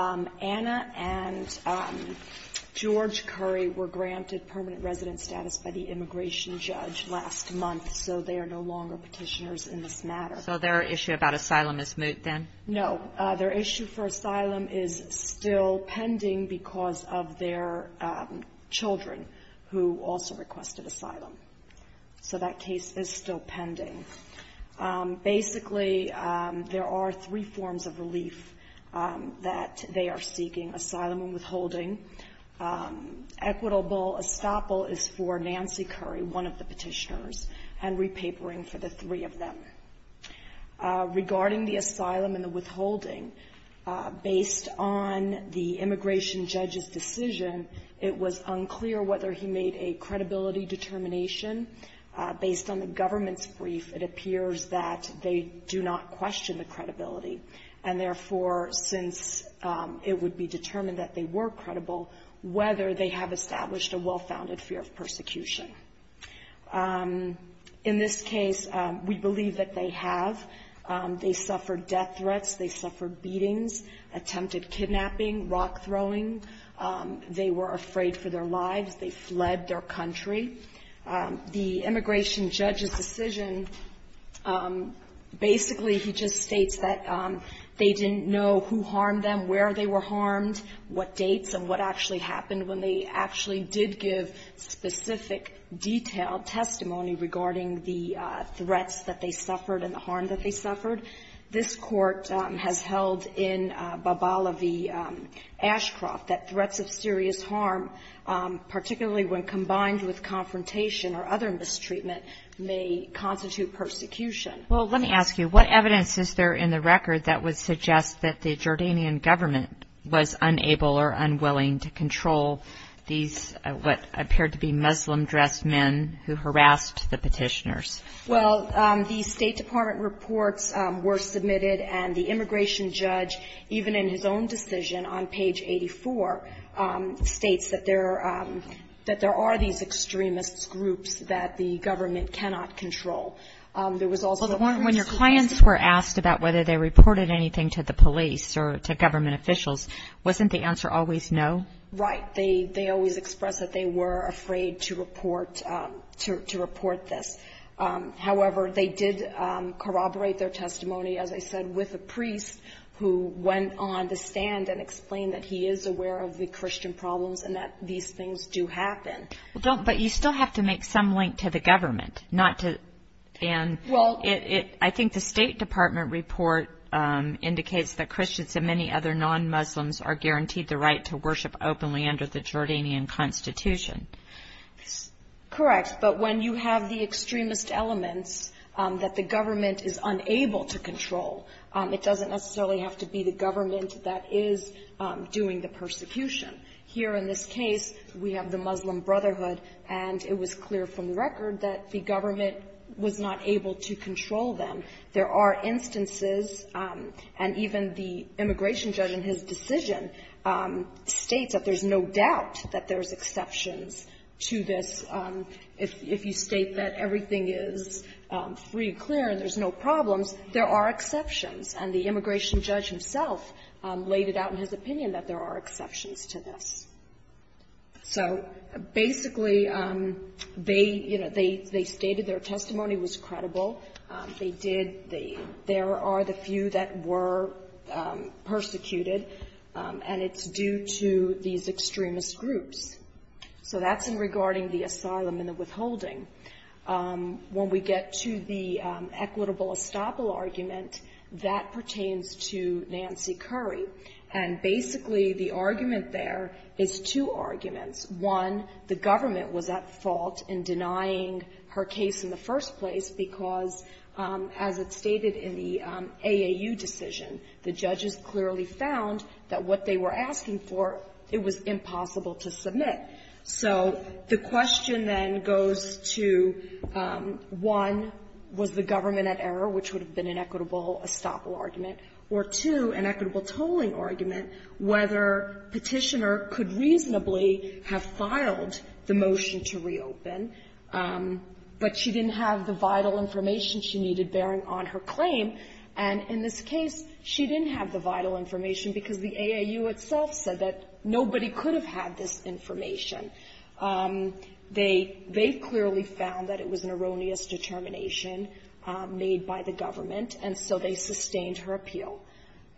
Anna and George Khoury were granted permanent residence status by the immigration judge last month, so they are no longer petitioners in this matter. So their issue about asylum is moot then? No. Their issue for asylum is still pending because of their children, who also requested asylum. So that case is still pending. Basically, there are three forms of relief that they are seeking, asylum and withholding. Equitable estoppel is for Nancy Khoury, one of the petitioners, and repapering for the three of them. Regarding the asylum and the withholding, based on the immigration judge's decision, it was unclear whether he made a credibility determination based on the government's brief, it appears that they do not question the credibility. And therefore, since it would be determined that they were credible, whether they have established a well-founded fear of persecution. In this case, we believe that they have. They suffered death threats, they suffered beatings, attempted kidnapping, rock throwing. They were afraid for their lives, they fled their country. The immigration judge's decision, basically he just states that they didn't know who harmed them, where they were harmed, what dates and what actually happened when they actually did give specific detailed testimony regarding the threats that they suffered and the harm that they suffered. This court has held in Babalevi Ashcroft that threats of serious harm, particularly when combined with confrontation or other mistreatment, may constitute persecution. Well, let me ask you, what evidence is there in the record that would suggest that the Jordanian government was unable or unwilling to control these what appeared to be Muslim-dressed men who harassed the petitioners? Well, the State Department reports were submitted and the immigration judge, even in his own decision on page 84, states that there are these extremist groups that the government cannot control. When your clients were asked about whether they reported anything to the police or to government officials, wasn't the answer always no? Right. They always expressed that they were afraid to report this. However, they did corroborate their testimony, as I said, with a priest who went on to stand and explain that he is aware of the Christian problems and that these things do happen. But you still have to make some link to the government. I think the State Department report indicates that Christians and many other non-Muslims are guaranteed the right to worship openly under the Jordanian constitution. Correct. But when you have the extremist elements that the government is unable to control, it doesn't necessarily have to be the government that is doing the persecution. Here in this case, we have the Muslim Brotherhood, and it was clear from the record that the government was not able to control them. There are instances, and even the immigration judge in his decision states that there's no doubt that there's exceptions to this. If you state that everything is free, clear, and there's no problems, there are exceptions. And the immigration judge himself laid it out in his opinion that there are exceptions to this. So basically, they, you know, they stated their testimony was credible. They did. There are the few that were persecuted, and it's due to these extremist groups. So that's in regarding the asylum and the withholding. When we get to the equitable estoppel argument, that pertains to Nancy Curry. And basically, the argument there is two arguments. One, the government was at fault in denying her case in the first place because, as it's stated in the AAU decision, the judges clearly found that what they were asking for, it was impossible to submit. So the question then goes to, one, was the government at error, which would have been an equitable estoppel argument, or, two, an equitable tolling argument, whether Petitioner could reasonably have filed the motion to reopen, but she didn't have the vital information she needed bearing on her claim. And in this case, she didn't have the vital information because the AAU itself said that nobody could have had this information. They clearly found that it was an erroneous determination made by the government, and so they sustained her appeal.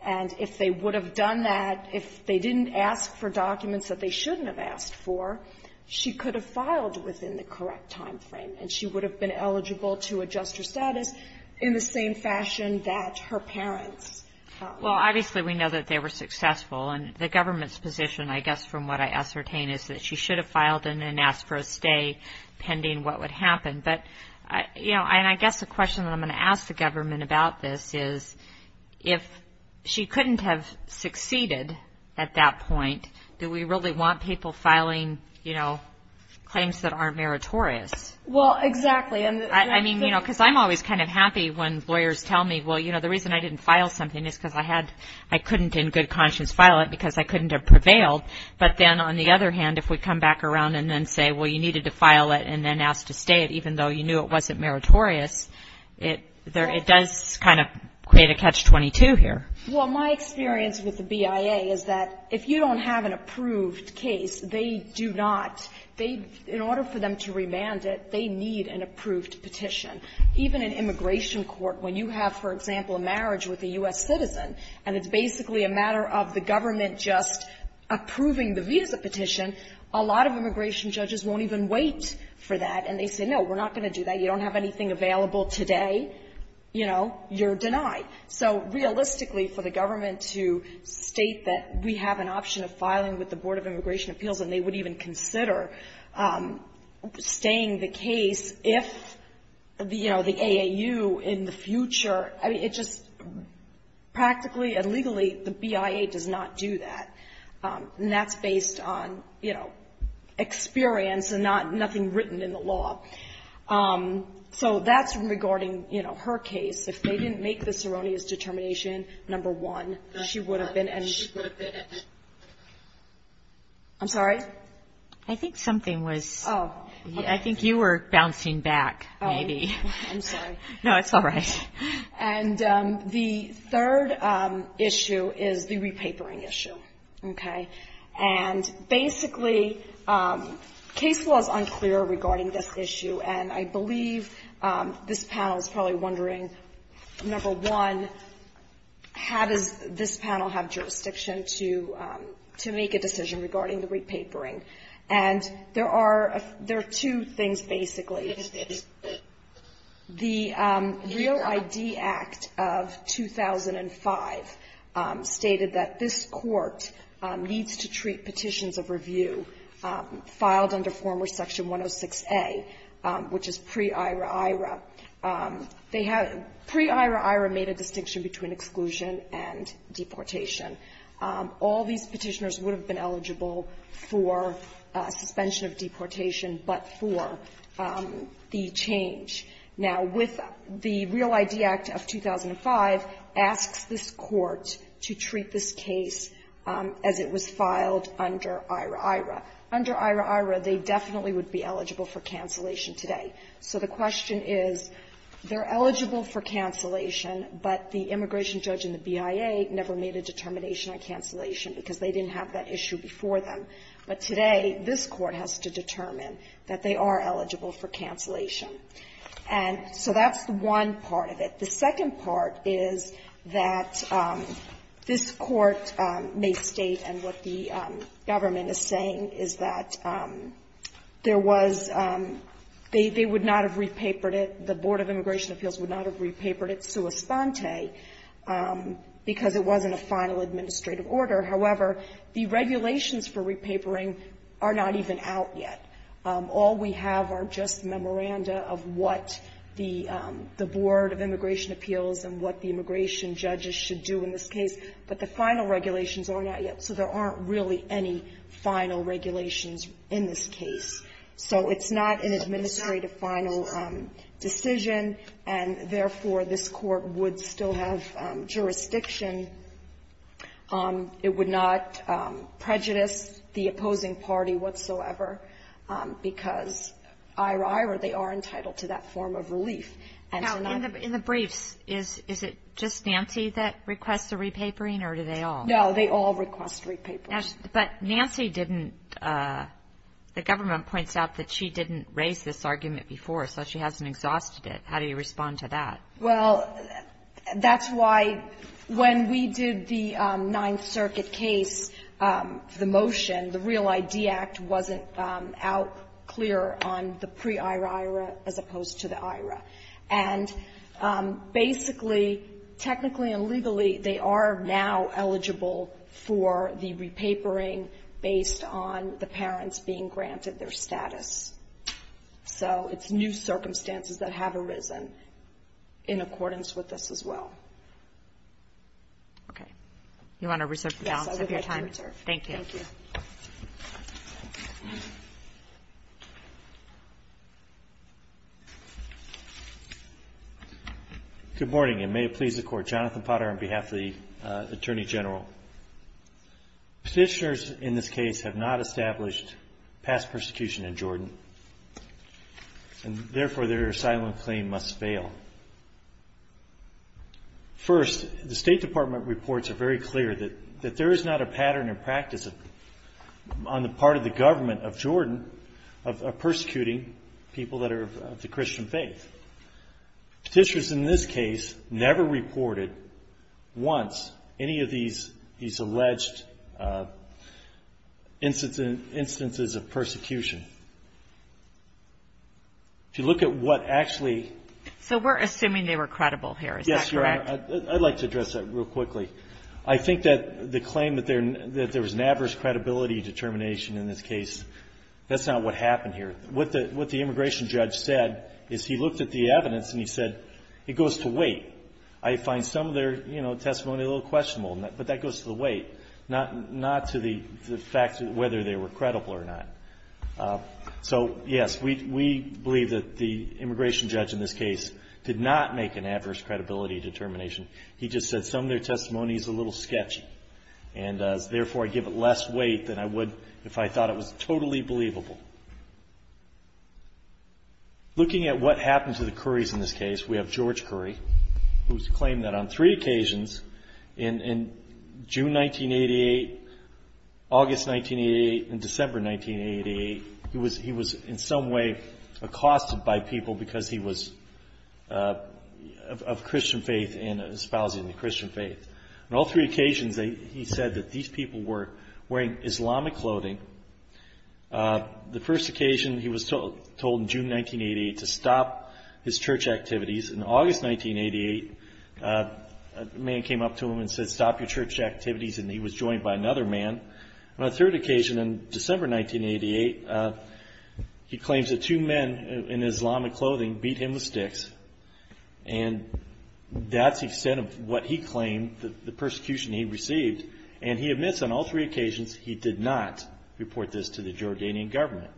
And if they would have done that, if they didn't ask for documents that they shouldn't have asked for, she could have filed within the correct timeframe, and she would have been eligible to adjust her status in the same fashion that her parents. Well, obviously, we know that they were successful, and the government's position, I guess, from what I ascertain is that she should have filed and then asked for a stay pending what would happen. But, you know, and I guess the question that I'm going to ask the government about this is, if she couldn't have succeeded at that point, do we really want people filing, you know, claims that aren't meritorious? Well, exactly. I mean, you know, because I'm always kind of happy when lawyers tell me, well, you know, the reason I didn't file something is because I had — I couldn't in good conscience file it because I couldn't have prevailed. But then, on the other hand, if we come back around and then say, well, you needed to file it and then ask to stay it, even though you knew it wasn't meritorious, it does kind of create a catch-22 here. Well, my experience with the BIA is that if you don't have an approved case, they do not — in order for them to remand it, they need an approved petition. Even in immigration court, when you have, for example, a marriage with a U.S. citizen and it's basically a matter of the government just approving the visa petition, a lot of immigration judges won't even wait for that. And they say, no, we're not going to do that. You don't have anything available today. You know, you're denied. So realistically, for the government to state that we have an option of filing with the AAU in the future, I mean, it just — practically and legally, the BIA does not do that. And that's based on, you know, experience and not — nothing written in the law. So that's regarding, you know, her case. If they didn't make this erroneous determination, number one, she would have been — I'm sorry? I think something was — I think you were bouncing back, maybe. I'm sorry. No, it's all right. And the third issue is the repapering issue, okay? And basically, case law is unclear regarding this issue, and I believe this panel is probably wondering, number one, how does this panel have jurisdiction to make a decision regarding the repapering? And there are two things, basically. The Real ID Act of 2005 stated that this Court needs to treat petitions of review filed under former Section 106A, which is pre-IRA-IRA. They have — pre-IRA-IRA made a distinction between exclusion and deportation. All these petitioners would have been eligible for suspension of deportation but for the change. Now, with the Real ID Act of 2005 asks this Court to treat this case as it was filed under IRA-IRA. Under IRA-IRA, they definitely would be eligible for cancellation today. So the question is, they're eligible for cancellation, but the immigration judge in the BIA never made a determination on cancellation because they didn't have that issue before them. But today, this Court has to determine that they are eligible for cancellation. And so that's one part of it. The second part is that this Court may state, and what the government is saying, is that there was — they would not have repapered it, the Board of Immigration Appeals would not have repapered it sua sponte because it wasn't a final administrative order. However, the regulations for repapering are not even out yet. All we have are just memoranda of what the Board of Immigration Appeals and what the immigration judges should do in this case. But the final regulations are not yet. So there aren't really any final regulations in this case. So it's not an administrative final decision, and therefore, this Court would still have jurisdiction. It would not prejudice the opposing party whatsoever. Because, ira ira, they are entitled to that form of relief. Now, in the briefs, is it just Nancy that requests a repapering, or do they all? No, they all request a repapering. But Nancy didn't — the government points out that she didn't raise this argument before, so she hasn't exhausted it. How do you respond to that? Well, that's why when we did the Ninth Circuit case, the motion, the Real ID Act wasn't out clear on the pre-ira ira as opposed to the ira. And basically, technically and legally, they are now eligible for the repapering based on the parents being granted their status. So it's new circumstances that have arisen in accordance with this as well. Okay. You want to reserve the balance of your time? Yes, I would like to reserve. Thank you. Thank you. Good morning, and may it please the Court. Jonathan Potter on behalf of the Attorney General. Petitioners in this case have not established past persecution in Jordan, and therefore their asylum claim must fail. First, the State Department reports are very clear that there is not a pattern in practice on the part of the government of Jordan of persecuting people that are of the Christian faith. Petitioners in this case never reported once any of these alleged instances of persecution. If you look at what actually ---- So we're assuming they were credible here. Is that correct? Yes, Your Honor. I'd like to address that real quickly. I think that the claim that there was an adverse credibility determination in this case, that's not what happened here. What the immigration judge said is he looked at the evidence and he said it goes to weight. I find some of their testimony a little questionable, but that goes to the weight, not to the fact whether they were credible or not. So, yes, we believe that the immigration judge in this case did not make an adverse credibility determination. He just said some of their testimony is a little sketchy, and therefore I give it less weight than I would if I thought it was totally believable. Looking at what happened to the Currys in this case, we have George Curry, who's claimed that on three occasions in June 1988, August 1988, and December 1988, he was in some way accosted by people because he was of Christian faith and espousing the Christian faith. On all three occasions he said that these people were wearing Islamic clothing. The first occasion he was told in June 1988 to stop his church activities. In August 1988, a man came up to him and said stop your church activities, and he was joined by another man. On a third occasion in December 1988, he claims that two men in Islamic clothing beat him with sticks, and that's the extent of what he claimed, the persecution he received, and he admits on all three occasions he did not report this to the Jordanian government.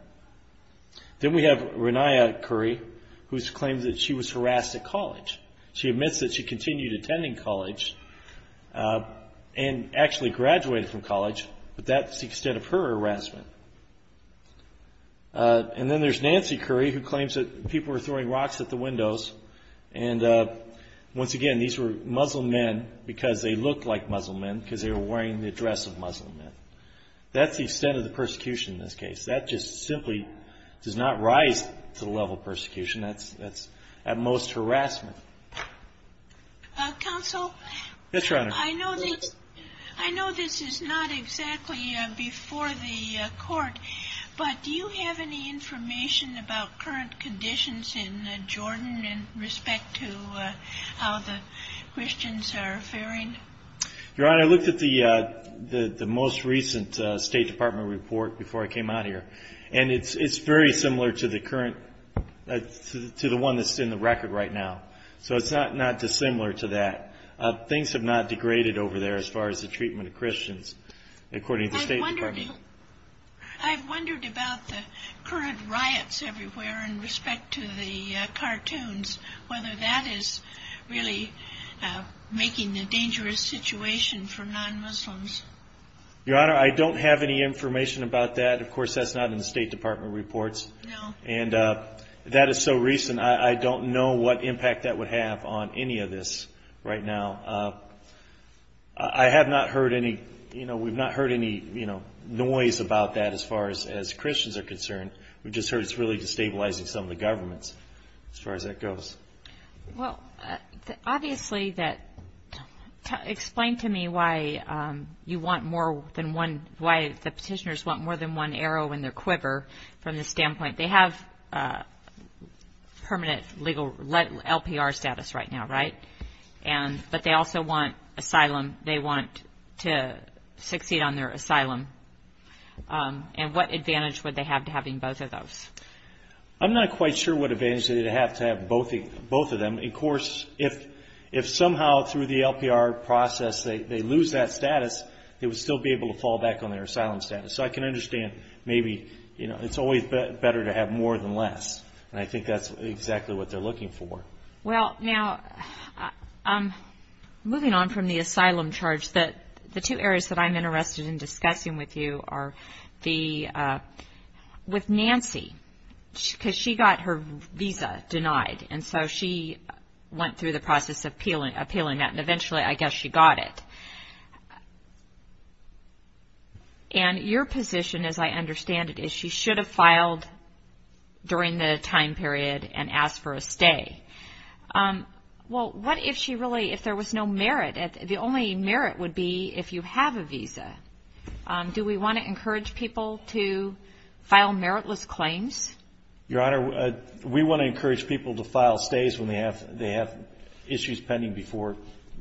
Then we have Renia Curry, who claims that she was harassed at college. She admits that she continued attending college and actually graduated from college, but that's the extent of her harassment. Then there's Nancy Curry, who claims that people were throwing rocks at the windows. Once again, these were Muslim men because they looked like Muslim men because they were wearing the dress of Muslim men. That's the extent of the persecution in this case. That just simply does not rise to the level of persecution. That's at most harassment. Counsel? Yes, Your Honor. I know this is not exactly before the court, but do you have any information about current conditions in Jordan in respect to how the Christians are faring? Your Honor, I looked at the most recent State Department report before I came out here, and it's very similar to the one that's in the record right now. So it's not dissimilar to that. Things have not degraded over there as far as the treatment of Christians, according to the State Department. I've wondered about the current riots everywhere in respect to the cartoons, whether that is really making a dangerous situation for non-Muslims. Your Honor, I don't have any information about that. Of course, that's not in the State Department reports. No. That is so recent, I don't know what impact that would have on any of this right now. We've not heard any noise about that as far as Christians are concerned. We've just heard it's really destabilizing some of the governments as far as that goes. Well, obviously that – explain to me why you want more than one – why the petitioners want more than one arrow in their quiver from this standpoint. They have permanent legal LPR status right now, right? But they also want asylum. They want to succeed on their asylum. And what advantage would they have to having both of those? I'm not quite sure what advantage they'd have to have both of them. Of course, if somehow through the LPR process they lose that status, they would still be able to fall back on their asylum status. So I can understand maybe it's always better to have more than less, and I think that's exactly what they're looking for. Well, now, moving on from the asylum charge, the two areas that I'm interested in discussing with you are with Nancy, because she got her visa denied, and so she went through the process of appealing that, and eventually I guess she got it. And your position, as I understand it, is she should have filed during the time period and asked for a stay. Well, what if she really – if there was no merit? The only merit would be if you have a visa. Do we want to encourage people to file meritless claims? Your Honor, we want to encourage people to file stays when they have issues pending before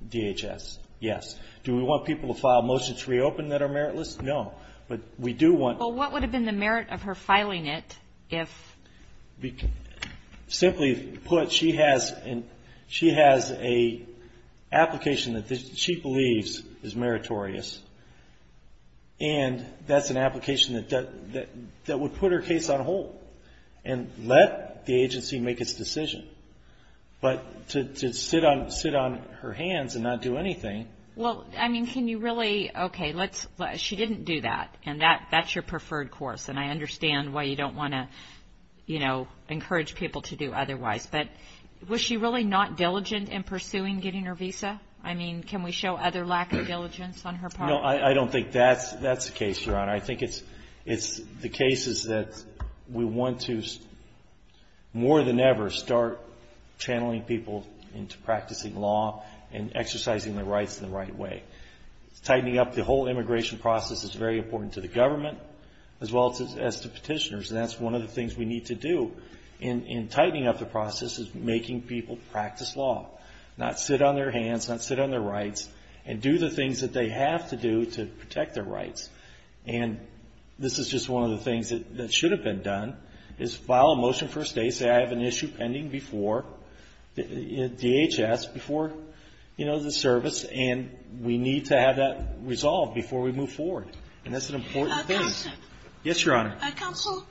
DHS. Yes. Do we want people to file motions to reopen that are meritless? No. But we do want – Well, what would have been the merit of her filing it if – Simply put, she has an application that she believes is meritorious, and that's an application that would put her case on hold and let the agency make its decision. But to sit on her hands and not do anything – Well, I mean, can you really – okay, she didn't do that, and that's your preferred course, and I understand why you don't want to, you know, encourage people to do otherwise. But was she really not diligent in pursuing getting her visa? I mean, can we show other lack of diligence on her part? No, I don't think that's the case, Your Honor. I think it's the cases that we want to, more than ever, start channeling people into practicing law and exercising their rights in the right way. Tightening up the whole immigration process is very important to the government as well as to petitioners, and that's one of the things we need to do in tightening up the process is making people practice law, not sit on their hands, not sit on their rights, and do the things that they have to do to protect their rights. And this is just one of the things that should have been done is file a motion for a stay, say I have an issue pending before DHS, before, you know, the service, and we need to have that resolved before we move forward. And that's an important thing. Counsel. Yes, Your Honor. Counsel,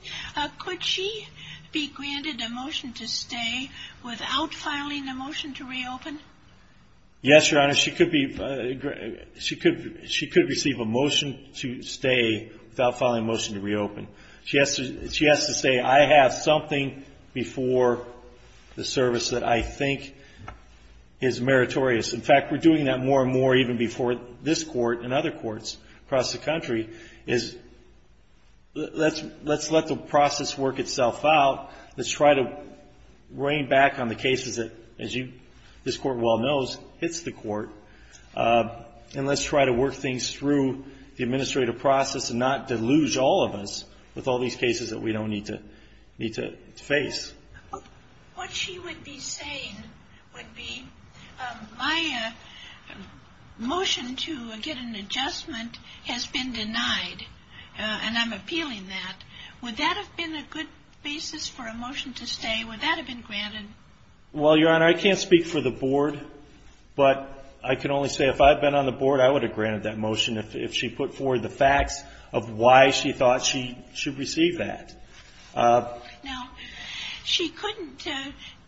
could she be granted a motion to stay without filing a motion to reopen? Yes, Your Honor. She could receive a motion to stay without filing a motion to reopen. She has to say, I have something before the service that I think is meritorious. In fact, we're doing that more and more even before this Court and other courts across the country is let's let the process work itself out. Let's try to rein back on the cases that, as this Court well knows, hits the Court, and let's try to work things through the administrative process and not deluge all of us with all these cases that we don't need to face. What she would be saying would be my motion to get an adjustment has been denied, and I'm appealing that. Would that have been a good basis for a motion to stay? Would that have been granted? Well, Your Honor, I can't speak for the Board, but I can only say if I had been on the Board I would have granted that motion if she put forward the facts of why she thought she should receive that. Now, she couldn't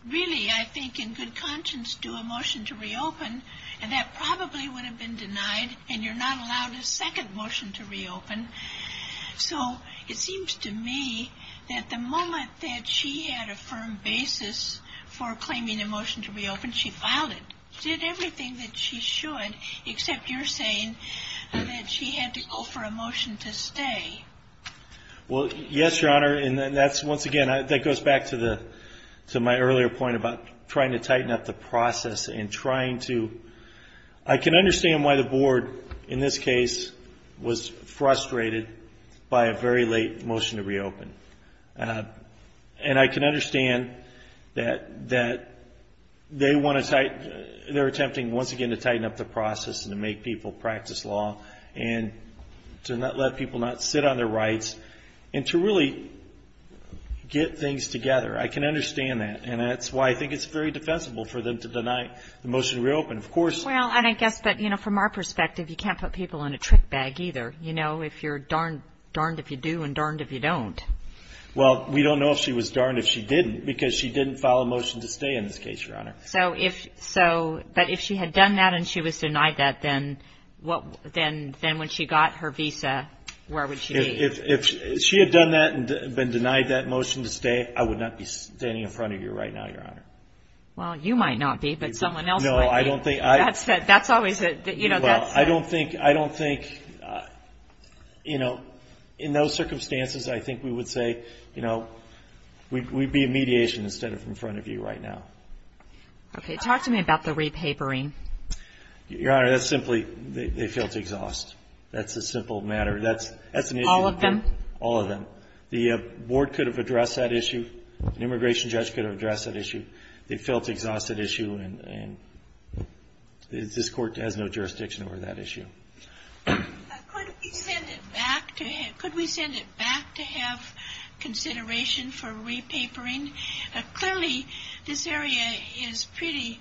really, I think, in good conscience do a motion to reopen, and that probably would have been denied, and you're not allowed a second motion to reopen. So it seems to me that the moment that she had a firm basis for claiming a motion to reopen, she filed it, did everything that she should, except you're saying that she had to go for a motion to stay. Well, yes, Your Honor, and that's, once again, that goes back to my earlier point about trying to tighten up the process and trying to, I can understand why the Board in this case was frustrated by a very late motion to reopen, and I can understand that they want to tighten, they're attempting once again to tighten up the process and to make people practice law and to not let people not sit on their rights and to really get things together. I can understand that, and that's why I think it's very defensible for them to deny the motion to reopen. Of course. Well, and I guess, but, you know, from our perspective, you can't put people in a trick bag either. You know, if you're darned if you do and darned if you don't. Well, we don't know if she was darned if she didn't because she didn't file a motion to stay in this case, Your Honor. But if she had done that and she was denied that, then when she got her visa, where would she be? If she had done that and been denied that motion to stay, I would not be standing in front of you right now, Your Honor. Well, you might not be, but someone else might be. No, I don't think. That's always a, you know, that's. Well, I don't think, you know, in those circumstances, I think we would say, you know, we'd be in mediation instead of in front of you right now. Okay. Talk to me about the repapering. Your Honor, that's simply, they felt exhaust. That's a simple matter. That's an issue. All of them? All of them. The board could have addressed that issue. An immigration judge could have addressed that issue. They felt exhaust at issue, and this Court has no jurisdiction over that issue. Could we send it back to have consideration for repapering? Clearly, this area is pretty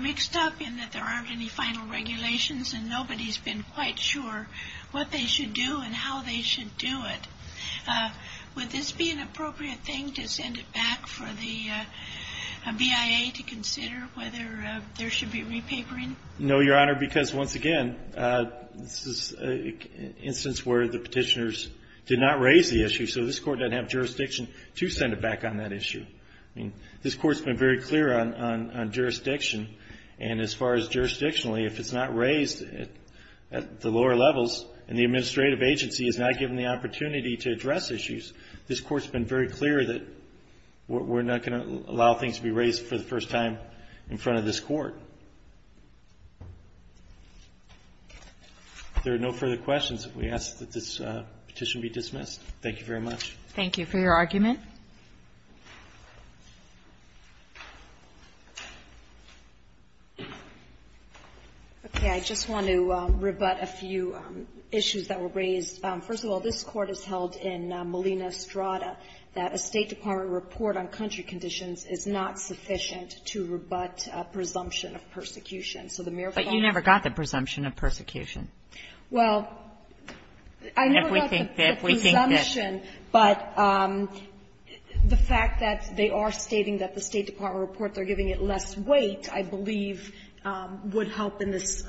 mixed up in that there aren't any final regulations and nobody's been quite sure what they should do and how they should do it. Would this be an appropriate thing to send it back for the BIA to consider whether there should be repapering? No, Your Honor, because, once again, this is an instance where the petitioners did not raise the issue, so this Court doesn't have jurisdiction to send it back on that issue. I mean, this Court's been very clear on jurisdiction, and as far as jurisdictionally, if it's not raised at the lower levels and the administrative agency is not given the opportunity to address issues, this Court's been very clear that we're not going to allow things to be raised for the first time in front of this Court. If there are no further questions, we ask that this petition be dismissed. Thank you very much. Thank you for your argument. Okay, I just want to rebut a few issues that were raised. First of all, this Court has held in Molina-Estrada that a State department report on country conditions is not sufficient to rebut a presumption of persecution. So the mere fact that the State department report is not sufficient to rebut a presumption of persecution. Well, I never got the presumption, but the fact that they are stating that the State department report, they are giving it less weight, I believe, would help in this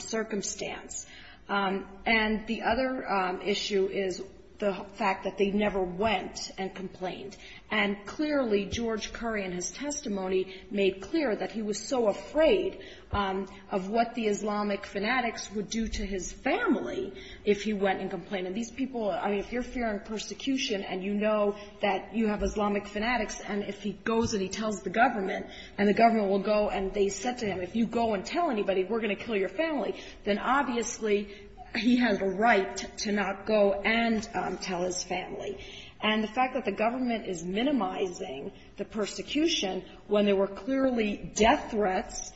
circumstance. And the other issue is the fact that they never went and complained. And clearly, George Curry, in his testimony, made clear that he was so afraid of what the Islamic fanatics would do to his family if he went and complained. And these people, I mean, if you're fearing persecution and you know that you have Islamic fanatics and if he goes and he tells the government and the government will go and they said to him, if you go and tell anybody we're going to kill your family, then obviously he has a right to not go and tell his family. And the fact that the government is minimizing the persecution when there were clearly death threats,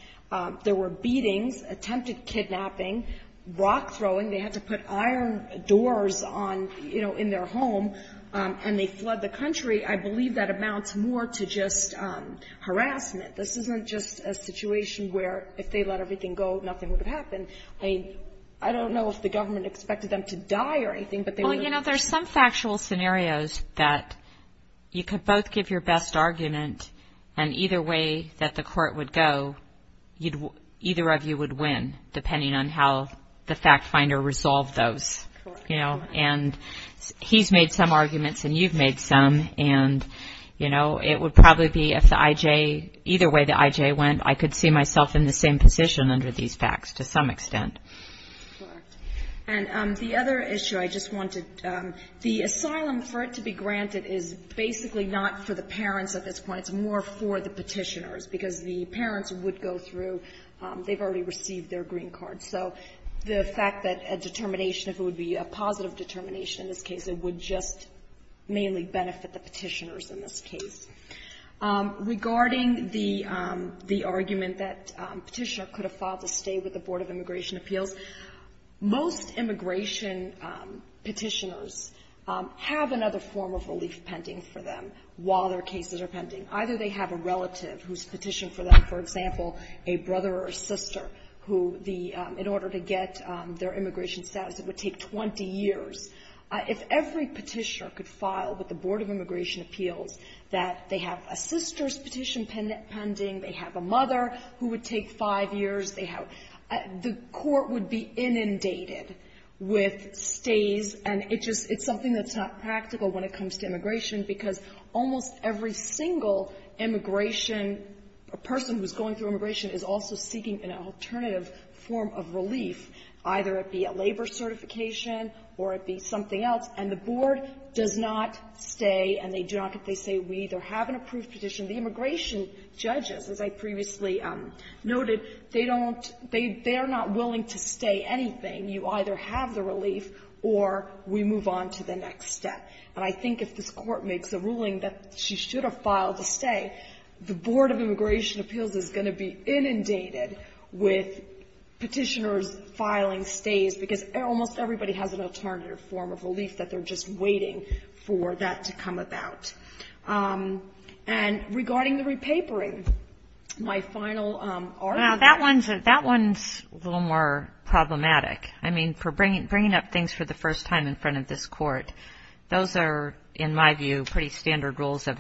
there were beatings, attempted kidnapping, rock throwing. They had to put iron doors on, you know, in their home, and they flood the country. I believe that amounts more to just harassment. This isn't just a situation where if they let everything go, nothing would have happened. I mean, I don't know if the government expected them to die or anything, but they were. Well, you know, there's some factual scenarios that you could both give your best argument, and either way that the court would go, either of you would win, depending on how the fact finder resolved those. Correct. You know, and he's made some arguments and you've made some, and, you know, it would probably be if the I.J., either way the I.J. went, I could see myself in the same position under these facts to some extent. Correct. And the other issue I just wanted, the asylum, for it to be granted, is basically not for the parents at this point. It's more for the petitioners, because the parents would go through, they've already received their green card. So the fact that a determination, if it would be a positive determination in this case. Regarding the argument that a petitioner could have filed to stay with the Board of Immigration Appeals, most immigration petitioners have another form of relief pending for them while their cases are pending. Either they have a relative who's petitioned for them, for example, a brother or sister, who the, in order to get their immigration status, it would take 20 years. If every petitioner could file with the Board of Immigration Appeals, that they have a sister's petition pending, they have a mother who would take five years, they have the court would be inundated with stays, and it just, it's something that's not practical when it comes to immigration, because almost every single immigration, a person who's going through immigration is also seeking an alternative form of relief, either it be a labor certification or it be something else. And the Board does not stay, and they do not get to say, we either have an approved petition. The immigration judges, as I previously noted, they don't, they, they are not willing to stay anything. You either have the relief or we move on to the next step. And I think if this Court makes a ruling that she should have filed to stay, the Board of Immigration Petitioners' filing stays, because almost everybody has an alternative form of relief that they're just waiting for that to come about. And regarding the repapering, my final argument. Now, that one's, that one's a little more problematic. I mean, for bringing, bringing up things for the first time in front of this Court, those are, in my view, pretty standard rules of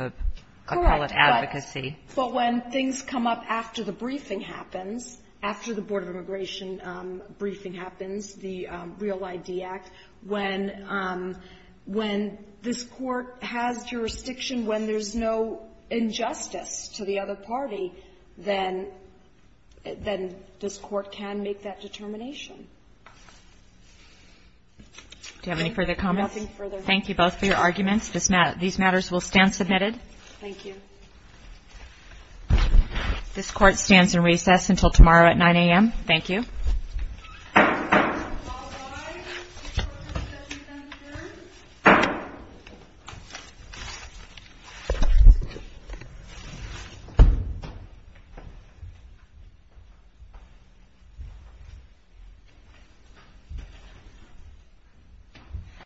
appellate advocacy. But when things come up after the briefing happens, after the Board of Immigration briefing happens, the Real ID Act, when, when this Court has jurisdiction, when there's no injustice to the other party, then, then this Court can make that determination. Do you have any further comments? Nothing further. Thank you both for your arguments. This matter, these matters will stand submitted. Thank you. This Court stands in recess until tomorrow at 9 a.m. Thank you.